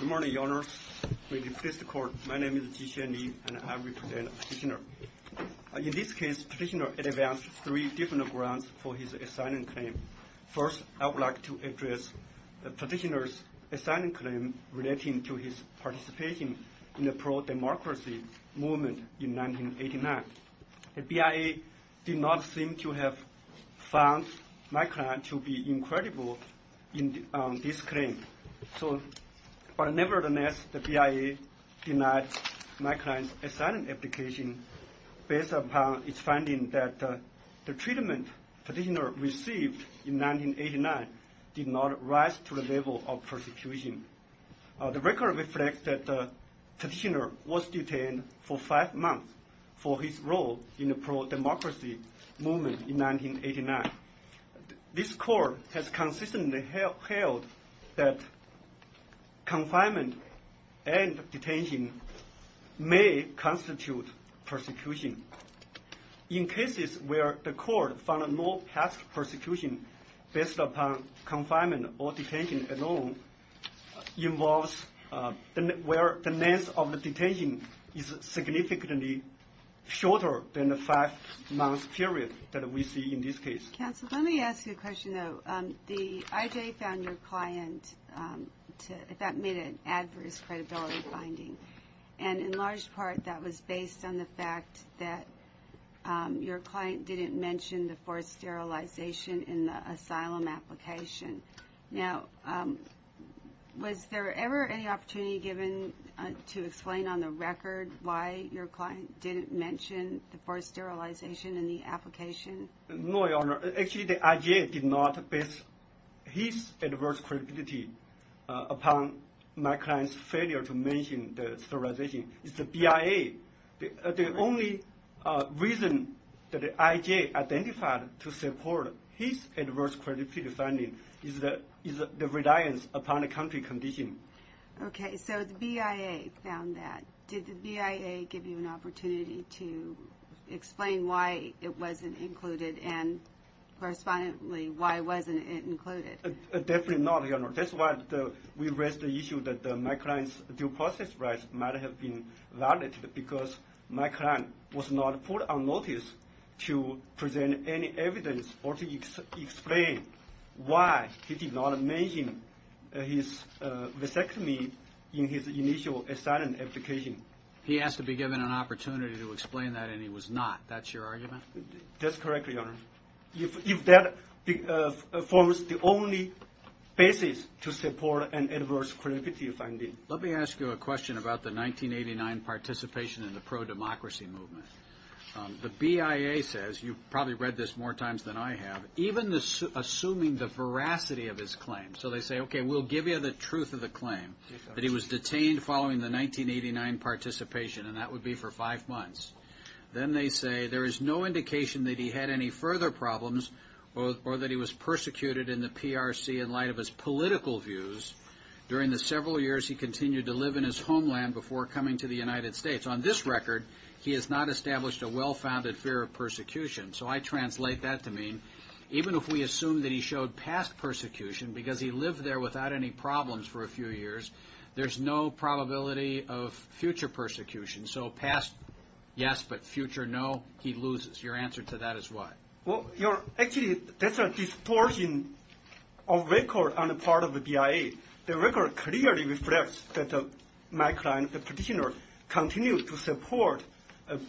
Good morning, Your Honors. In this case, the petitioner advanced three different grounds for his assignment claim. First, I would like to address the petitioner's assignment claim relating to his participation in the pro-democracy movement in 1989. The BIA did not seem to have found my client to be incredible in this claim, but nevertheless the BIA denied my client's assignment application based upon its finding that the treatment petitioner received in 1989 did not rise to the level of persecution. The record reflects that the petitioner was detained for five months for his role in the pro-democracy movement in 1989. This court has consistently held that confinement and detention may constitute persecution. In cases where the court found no past persecution based upon confinement or detention alone involves where the length of the detention is significantly shorter than the five month period that we see in this case. Counsel, let me ask you a question though. The IJA found your client to have made an adverse credibility finding and in large part that was based on the fact that your client didn't mention the forced sterilization in the asylum application. Now was there ever any opportunity given to explain on the record why your client didn't mention the forced sterilization in the application? No, Your Honor. Actually, the IJA did not base his adverse credibility upon my client's failure to mention the sterilization. It's the BIA. The only reason that the IJA identified to support his adverse credibility finding is the reliance upon a country condition. Okay, so the BIA found that. Did the BIA give you an opportunity to explain why it wasn't included and correspondingly why wasn't it included? Definitely not, Your Honor. That's why we raised the issue that my client's due process rights might have been violated because my client was not put on notice to present any evidence or to explain why he He asked to be given an opportunity to explain that and he was not. That's your argument? That's correct, Your Honor. If that forms the only basis to support an adverse credibility finding. Let me ask you a question about the 1989 participation in the pro-democracy movement. The BIA says, you've probably read this more times than I have, even assuming the veracity of his claim. So they say, okay, we'll give you the truth of the claim that he was detained following the 1989 participation and that would be for five months. Then they say, there is no indication that he had any further problems or that he was persecuted in the PRC in light of his political views during the several years he continued to live in his homeland before coming to the United States. On this record, he has not established a well-founded fear of persecution. So I translate that to mean, even if we assume that he showed past persecution because he of future persecution. So past, yes, but future, no, he loses. Your answer to that is what? Well, actually, that's a distortion of record on the part of the BIA. The record clearly reflects that my client, the petitioner, continued to support an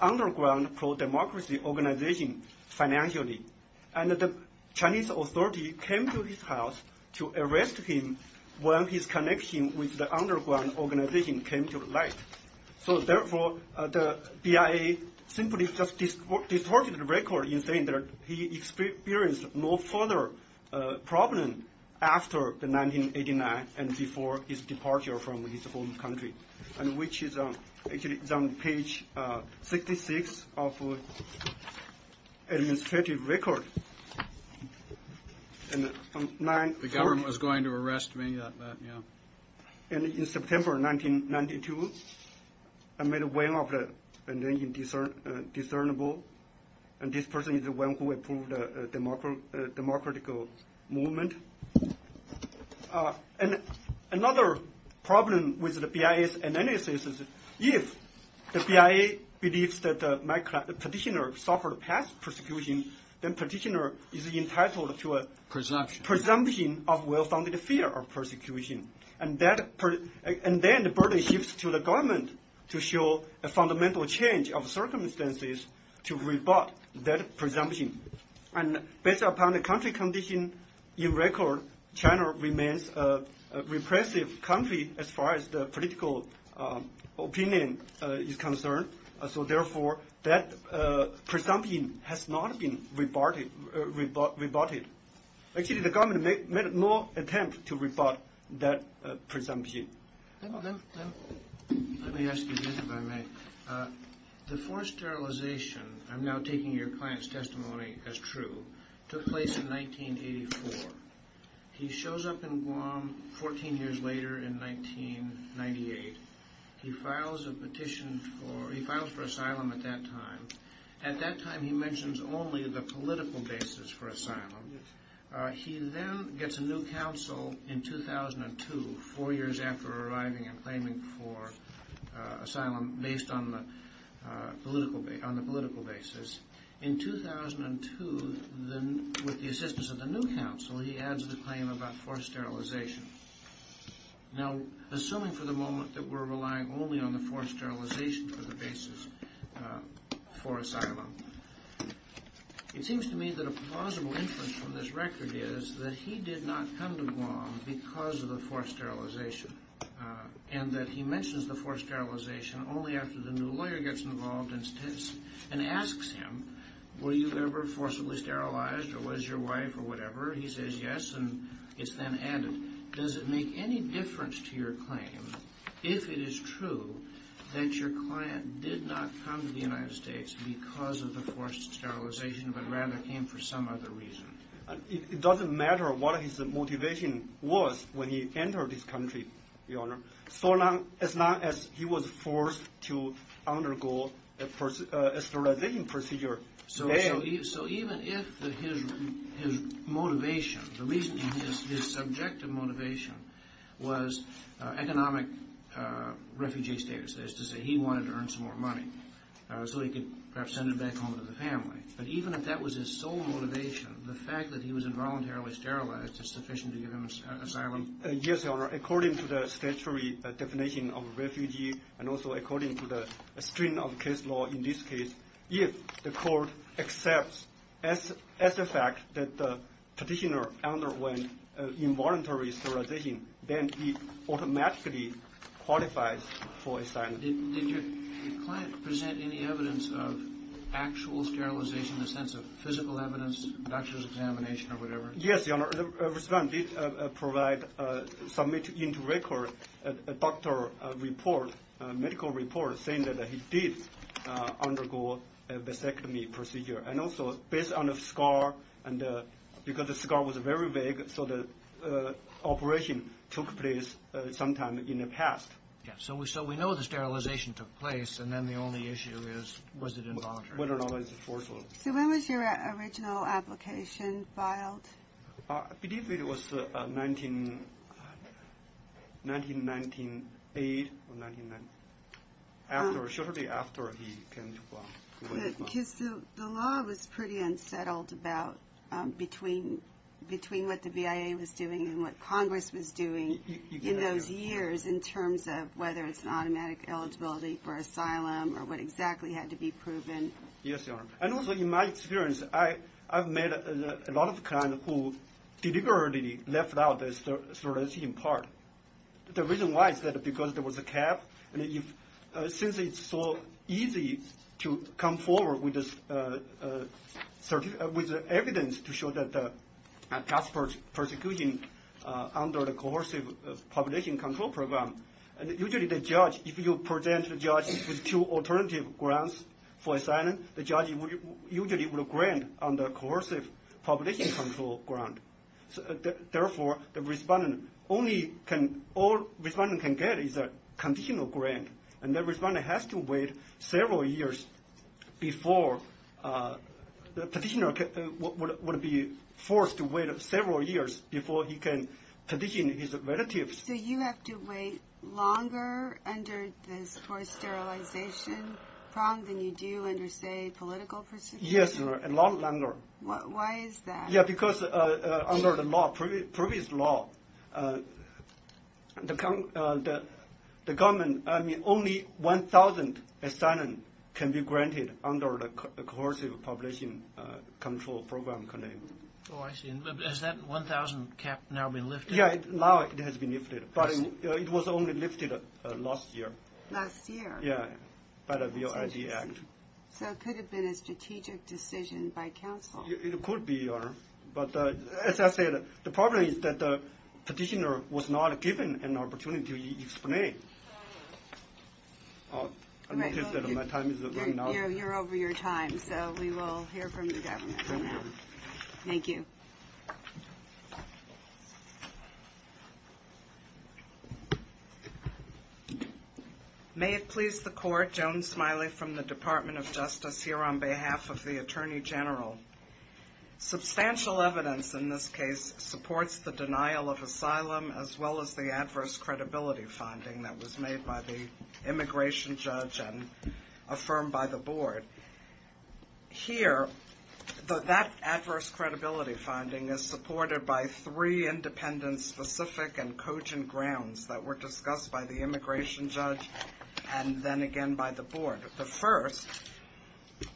underground pro-democracy organization financially. And the Chinese authority came to his house to arrest him when his connection with the organization came to light. So therefore, the BIA simply just distorted the record in saying that he experienced no further problem after the 1989 and before his departure from his home country, and which is actually is on page 66 of the administrative record, and 940. The government was going to arrest me, yeah. And in September 1992, I made a way of it, and then you discernible. And this person is the one who approved a democratical movement. And another problem with the BIA's analysis is if the BIA believes that my petitioner suffered past persecution, then petitioner is entitled to a presumption of well-founded fear of persecution. And then the burden shifts to the government to show a fundamental change of circumstances to rebut that presumption. And based upon the country condition in record, China remains a repressive country as far as the political opinion is concerned. So therefore, that presumption has not been rebutted. Actually, the government made no attempt to rebut that presumption. Let me ask you this, if I may. The forced sterilization, I'm now taking your client's testimony as true, took place in 1984. He shows up in Guam 14 years later in 1998. He files a petition for, he files for asylum at that time. At that time, he mentions only the political basis for asylum. He then gets a new counsel in 2002, four years after arriving and claiming for asylum based on the political basis. In 2002, with the assistance of the new counsel, he adds the claim about forced sterilization. Now, assuming for the moment that we're relying only on the forced sterilization for the basis for asylum, it seems to me that a plausible inference from this record is that he did not come to Guam because of the forced sterilization, and that he mentions the forced sterilization only after the new lawyer gets involved and asks him, were you ever forcibly sterilized or was your wife or whatever? He says yes, and it's then added. Does it make any difference to your claim, if it is true, that your client did not come to the United States because of the forced sterilization, but rather came for some other reason? It doesn't matter what his motivation was when he entered this country, Your Honor, so long as he was forced to undergo a sterilization procedure. So even if his motivation, his subjective motivation, was economic refugee status, that is to say he wanted to earn some more money so he could perhaps send it back home to the family, but even if that was his sole motivation, the fact that he was involuntarily sterilized is sufficient to give him asylum? Yes, Your Honor, according to the statutory definition of refugee, and also according to the string of case law in this case, if the court accepts as a fact that the petitioner underwent involuntary sterilization, then he automatically qualifies for asylum. Did your client present any evidence of actual sterilization, a sense of physical evidence, doctor's examination or whatever? Yes, Your Honor, the respondent did provide, submit into record a doctor report, a medical report, saying that he did undergo a vasectomy procedure, and also based on the scar, and because the scar was very vague, so the operation took place sometime in the past. So we know the sterilization took place, and then the only issue is was it involuntary? Whether or not it was forced. So when was your original application filed? I believe it was 1998, shortly after he came to Washington. Because the law was pretty unsettled between what the BIA was doing and what Congress was doing in those years in terms of whether it's an automatic eligibility for asylum or what exactly had to be proven. Yes, Your Honor. And also in my experience, I've met a lot of clients who deliberately left out the sterilization part. The reason why is that because there was a cap, and since it's so easy to come forward with evidence to show that the passport persecution under the coercive population control program, usually the judge, if you present the judge with two alternative grants for asylum, the judge usually will grant on the coercive population control grant. Therefore, the respondent only can, all respondent can get is a conditional grant, and the respondent has to wait several years before, the petitioner would be forced to wait several years before he can petition his relatives. So you have to wait longer under this forced sterilization prong than you do under, say, political persecution? Yes, Your Honor, a lot longer. Why is that? Yeah, because under the law, previous law, the government, only 1,000 asylum can be granted under the coercive population control program. Oh, I see. Has that 1,000 cap now been lifted? Yeah, now it has been lifted, but it was only lifted last year. Last year? Yeah, by the VOID Act. So it could have been a strategic decision by counsel. It could be, Your Honor. But as I said, the problem is that the petitioner was not given an opportunity to explain. Oh, I noticed that my time is running out. You're over your time, so we will hear from the government for now. Thank you. May it please the Court, Joan Smiley from the Department of Justice, here on behalf of the Attorney General. Substantial evidence in this case supports the denial of asylum as well as the adverse credibility finding that was made by the immigration judge and affirmed by the Board. Here, that adverse credibility finding is supported by three independent and specific and cogent grounds that were discussed by the immigration judge and then again by the Board. The first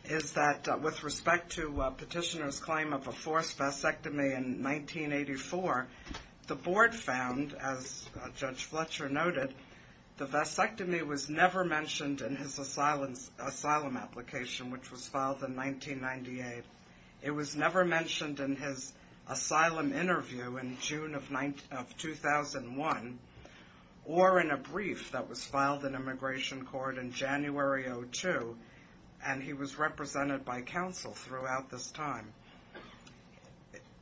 is that with respect to petitioner's claim of a forced vasectomy in 1984, the Board found, as Judge Fletcher noted, the vasectomy was never mentioned in his asylum application, which was filed in 1998. It was never mentioned in his asylum interview in June of 2001 or in a brief that was filed in immigration court in January of 2002, and he was represented by counsel throughout this time.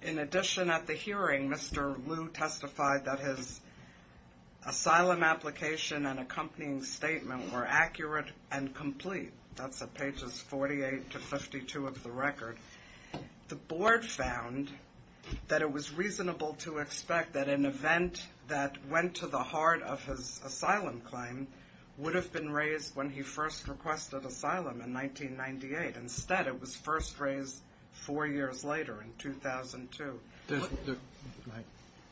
In addition, at the hearing, Mr. Liu testified that his asylum application and accompanying statement were accurate and complete. That's at pages 48 to 52 of the record. The Board found that it was reasonable to expect that an event that went to the heart of his asylum claim would have been raised when he first requested asylum in 1998. Instead, it was first raised four years later in 2002.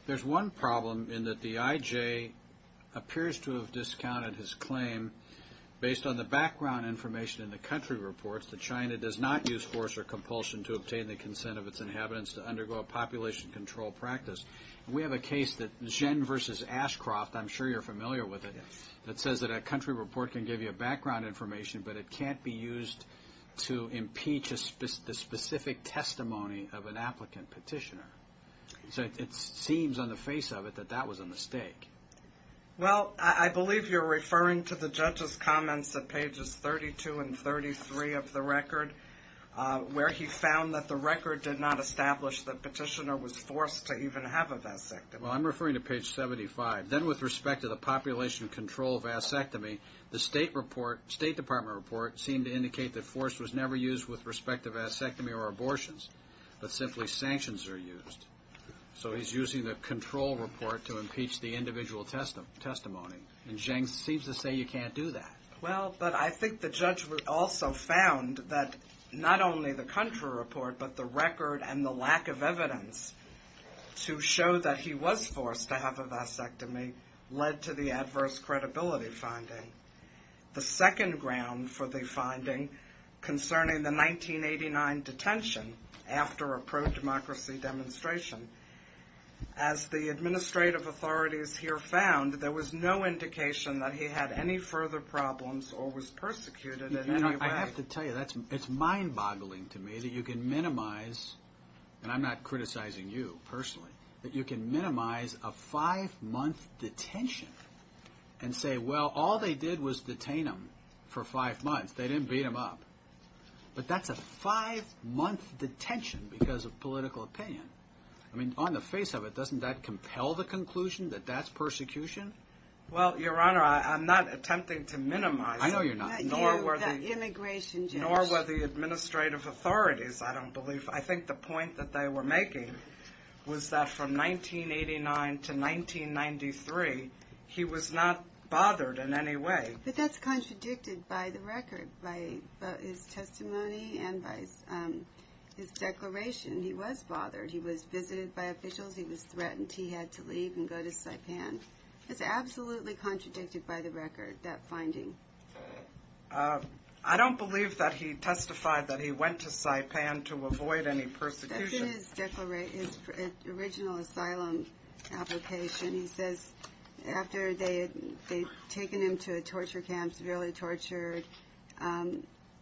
There's one problem in that the IJ appears to have discounted his claim based on the background information in the country reports that China does not use force or compulsion to obtain the consent of its inhabitants to undergo a population control practice. We have a case that Zhen versus Ashcroft, I'm sure you're familiar with it, that says that a country report can give you a background information, but it can't be used to impeach the specific testimony of an applicant petitioner. Well, I believe you're referring to the judge's comments at pages 32 and 33 of the record, where he found that the record did not establish that petitioner was forced to even have a vasectomy. Well, I'm referring to page 75. Then with respect to the population control vasectomy, the State Department report seemed to indicate that force was never used with respect to vasectomy or abortions, but simply sanctions are used. So he's using the control report to impeach the individual testimony, and Zhen seems to say you can't do that. Well, but I think the judge also found that not only the country report, but the record and the lack of evidence to show that he was forced to have a vasectomy led to the adverse credibility finding. The second ground for the finding concerning the 1989 detention after a pro-democracy demonstration, as the administrative authorities here found, there was no indication that he had any further problems or was persecuted in any way. You know, I have to tell you, it's mind-boggling to me that you can minimize, and I'm not criticizing you personally, that you can minimize a five-month detention and say, well, all they did was detain him for five months. They didn't beat him up. But that's a five-month detention because of political opinion. I mean, on the face of it, doesn't that compel the conclusion that that's persecution? Well, Your Honor, I'm not attempting to minimize it. I know you're not. Not you, the immigration judge. Nor were the administrative authorities, I don't believe. I think the point that they were making was that from 1989 to 1993, he was not bothered in any way. But that's contradicted by the record, by his testimony and by his declaration. He was bothered. He was visited by officials. He was threatened. He had to leave and go to Saipan. It's absolutely contradicted by the record, that finding. I don't believe that he testified that he went to Saipan to avoid any persecution. That's in his original asylum application. He says after they had taken him to a torture camp, severely tortured,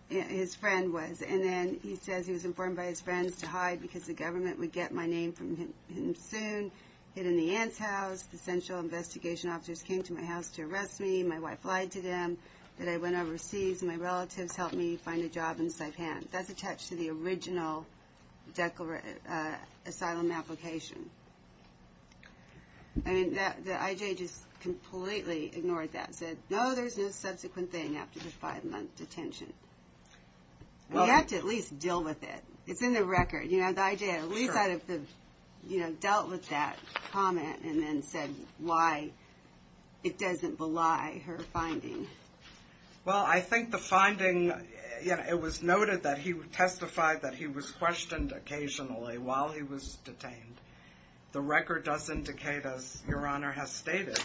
his friend was. And then he says he was informed by his friends to hide because the government would get my name from him soon. He hid in the aunt's house. The central investigation officers came to my house to arrest me. My wife lied to them that I went overseas. My relatives helped me find a job in Saipan. That's attached to the original asylum application. The I.J. just completely ignored that and said, no, there's no subsequent thing after the five-month detention. You have to at least deal with it. It's in the record. The I.J. at least dealt with that comment and then said why it doesn't belie her finding. Well, I think the finding, it was noted that he testified that he was questioned occasionally while he was detained. The record does indicate, as Your Honor has stated.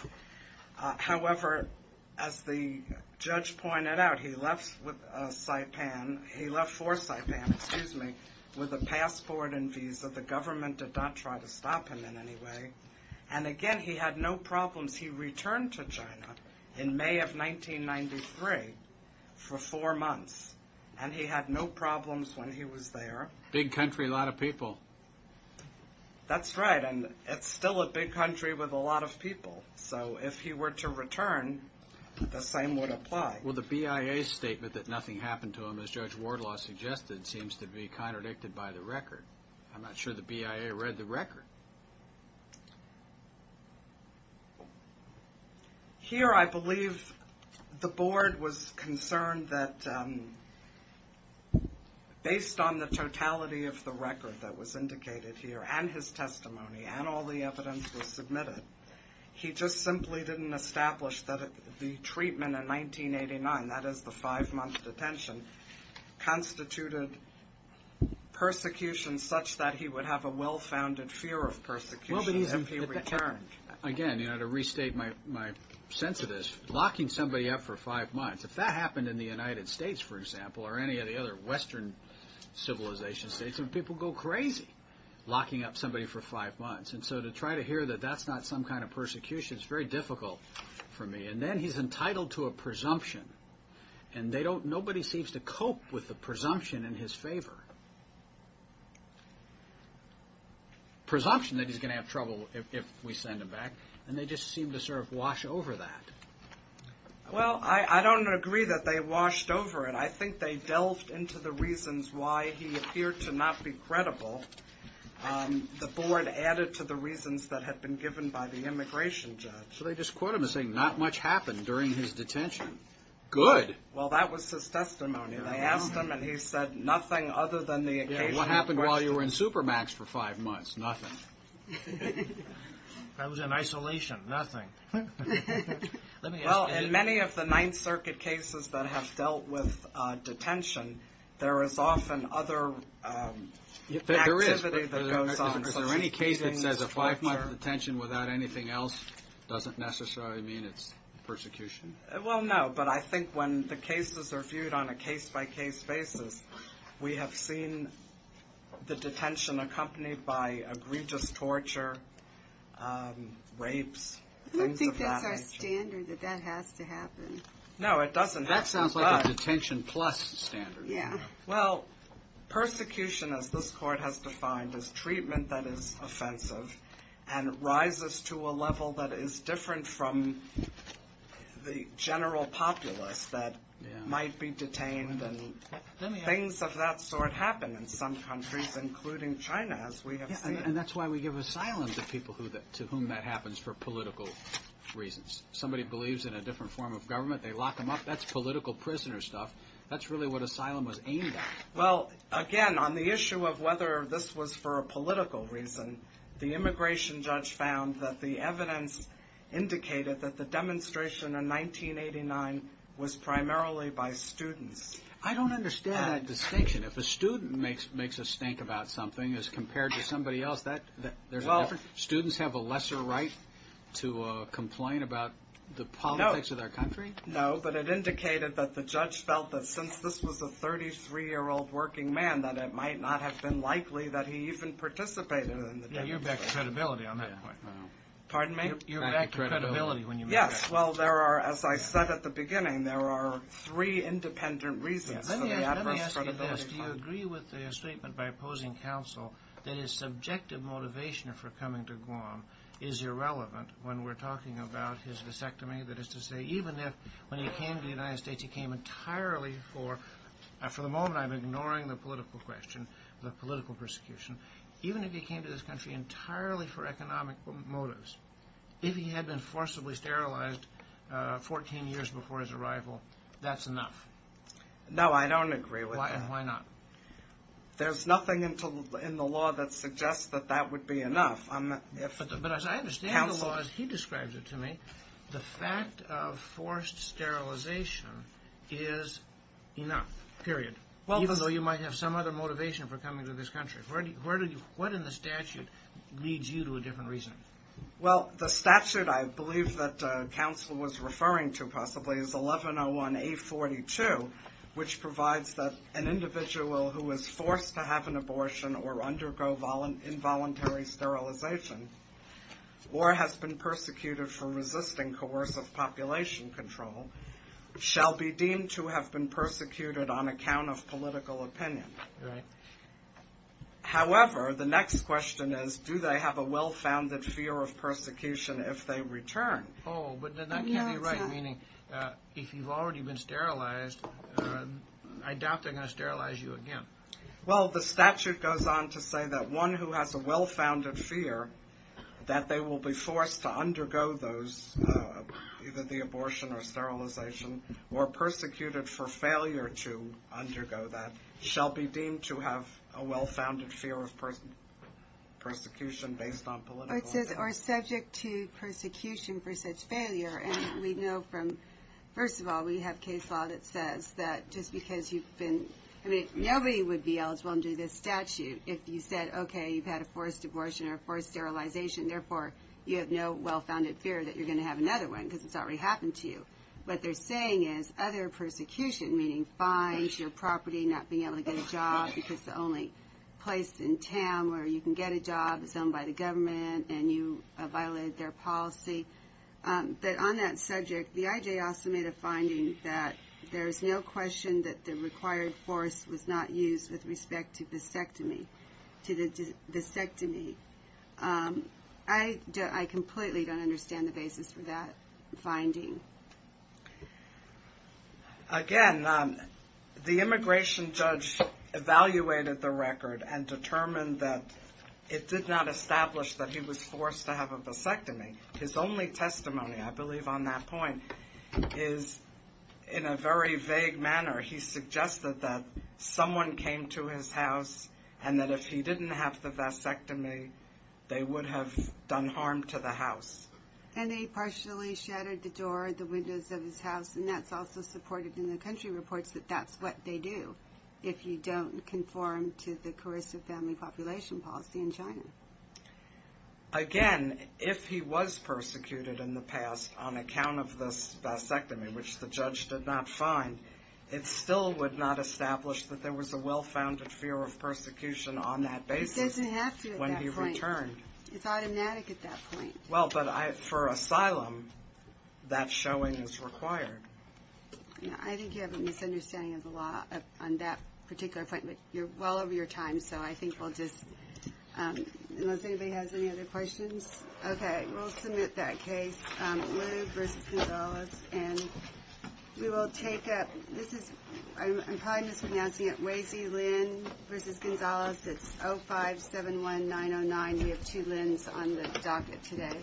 However, as the judge pointed out, he left for Saipan with a passport and visa. The government did not try to stop him in any way. And, again, he had no problems. He returned to China in May of 1993 for four months, and he had no problems when he was there. Big country, a lot of people. That's right, and it's still a big country with a lot of people. So if he were to return, the same would apply. Well, the BIA statement that nothing happened to him, as Judge Wardlaw suggested, seems to be contradicted by the record. I'm not sure the BIA read the record. Here I believe the board was concerned that based on the totality of the record that was indicated here and his testimony and all the evidence was submitted, he just simply didn't establish that the treatment in 1989, that is the five-month detention, constituted persecution such that he would have a well-founded fear of persecution if he returned. Again, to restate my sense of this, locking somebody up for five months, if that happened in the United States, for example, or any of the other Western civilization states, people would go crazy locking up somebody for five months. And so to try to hear that that's not some kind of persecution is very difficult for me. And then he's entitled to a presumption, and nobody seems to cope with the presumption in his favor. Presumption that he's going to have trouble if we send him back, and they just seem to sort of wash over that. Well, I don't agree that they washed over it. I think they delved into the reasons why he appeared to not be credible. The board added to the reasons that had been given by the immigration judge. So they just quote him as saying not much happened during his detention. Good. Well, that was his testimony. They asked him, and he said nothing other than the occasional question. Yeah, what happened while you were in supermax for five months? Nothing. That was in isolation. Nothing. Well, in many of the Ninth Circuit cases that have dealt with detention, there is often other activity that goes on. Is there any case that says a five-month detention without anything else doesn't necessarily mean it's persecution? Well, no. But I think when the cases are viewed on a case-by-case basis, we have seen the detention accompanied by egregious torture, rapes, things of that nature. I don't think that's our standard, that that has to happen. No, it doesn't have to. That sounds like a detention plus standard. Yeah. Well, persecution, as this court has defined, is treatment that is offensive and rises to a level that is different from the general populace that might be detained. Things of that sort happen in some countries, including China, as we have seen. Yeah, and that's why we give asylum to people to whom that happens for political reasons. Somebody believes in a different form of government, they lock them up. That's political prisoner stuff. That's really what asylum was aimed at. Well, again, on the issue of whether this was for a political reason, the immigration judge found that the evidence indicated that the demonstration in 1989 was primarily by students. I don't understand that distinction. If a student makes a stink about something as compared to somebody else, there's a difference? Students have a lesser right to complain about the politics of their country? No, but it indicated that the judge felt that since this was a 33-year-old working man, that it might not have been likely that he even participated in the demonstration. Yeah, you're back to credibility on that point. Pardon me? You're back to credibility when you move back. Yes, well, there are, as I said at the beginning, there are three independent reasons for the adverse credibility. Let me ask you this. Do you agree with the statement by opposing counsel that his subjective motivation for coming to Guam is irrelevant when we're talking about his vasectomy? That is to say, even if when he came to the United States, he came entirely for – for the moment, I'm ignoring the political question, the political persecution. Even if he came to this country entirely for economic motives, if he had been forcibly sterilized 14 years before his arrival, that's enough? No, I don't agree with that. And why not? There's nothing in the law that suggests that that would be enough. But as I understand the law, as he describes it to me, the fact of forced sterilization is enough, period, even though you might have some other motivation for coming to this country. What in the statute leads you to a different reason? Well, the statute I believe that counsel was referring to possibly is 1101A42, which provides that an individual who is forced to have an abortion or undergo involuntary sterilization or has been persecuted for resisting coercive population control shall be deemed to have been persecuted on account of political opinion. Right. However, the next question is, do they have a well-founded fear of persecution if they return? Oh, but then that can't be right, meaning if you've already been sterilized, I doubt they're going to sterilize you again. Well, the statute goes on to say that one who has a well-founded fear that they will be forced to undergo either the abortion or sterilization or persecuted for failure to undergo that shall be deemed to have a well-founded fear of persecution based on political opinion. Or subject to persecution for such failure. And we know from, first of all, we have case law that says that just because you've been, I mean, nobody would be eligible under this statute if you said, okay, you've had a forced abortion or forced sterilization. Therefore, you have no well-founded fear that you're going to have another one because it's already happened to you. What they're saying is other persecution, meaning fines, your property, not being able to get a job because it's the only place in town where you can get a job, it's owned by the government, and you violated their policy. But on that subject, the IJ also made a finding that there is no question that the required force was not used with respect to the vasectomy. I completely don't understand the basis for that finding. Again, the immigration judge evaluated the record and determined that it did not establish that he was forced to have a vasectomy. His only testimony, I believe on that point, is in a very vague manner. He suggested that someone came to his house and that if he didn't have the vasectomy, they would have done harm to the house. And they partially shattered the door, the windows of his house, and that's also supported in the country reports that that's what they do if you don't conform to the Carissa family population policy in China. Again, if he was persecuted in the past on account of this vasectomy, which the judge did not find, it still would not establish that there was a well-founded fear of persecution on that basis. It doesn't have to at that point. When he returned. It's automatic at that point. Well, but for asylum, that showing is required. I think you have a misunderstanding of the law on that particular point, but you're well over your time. So I think we'll just see if he has any other questions. OK. We'll submit that case. And we will take up. This is I'm probably mispronouncing it. Wasey Lynn versus Gonzalez. It's 0571909. We have two limbs on the docket today.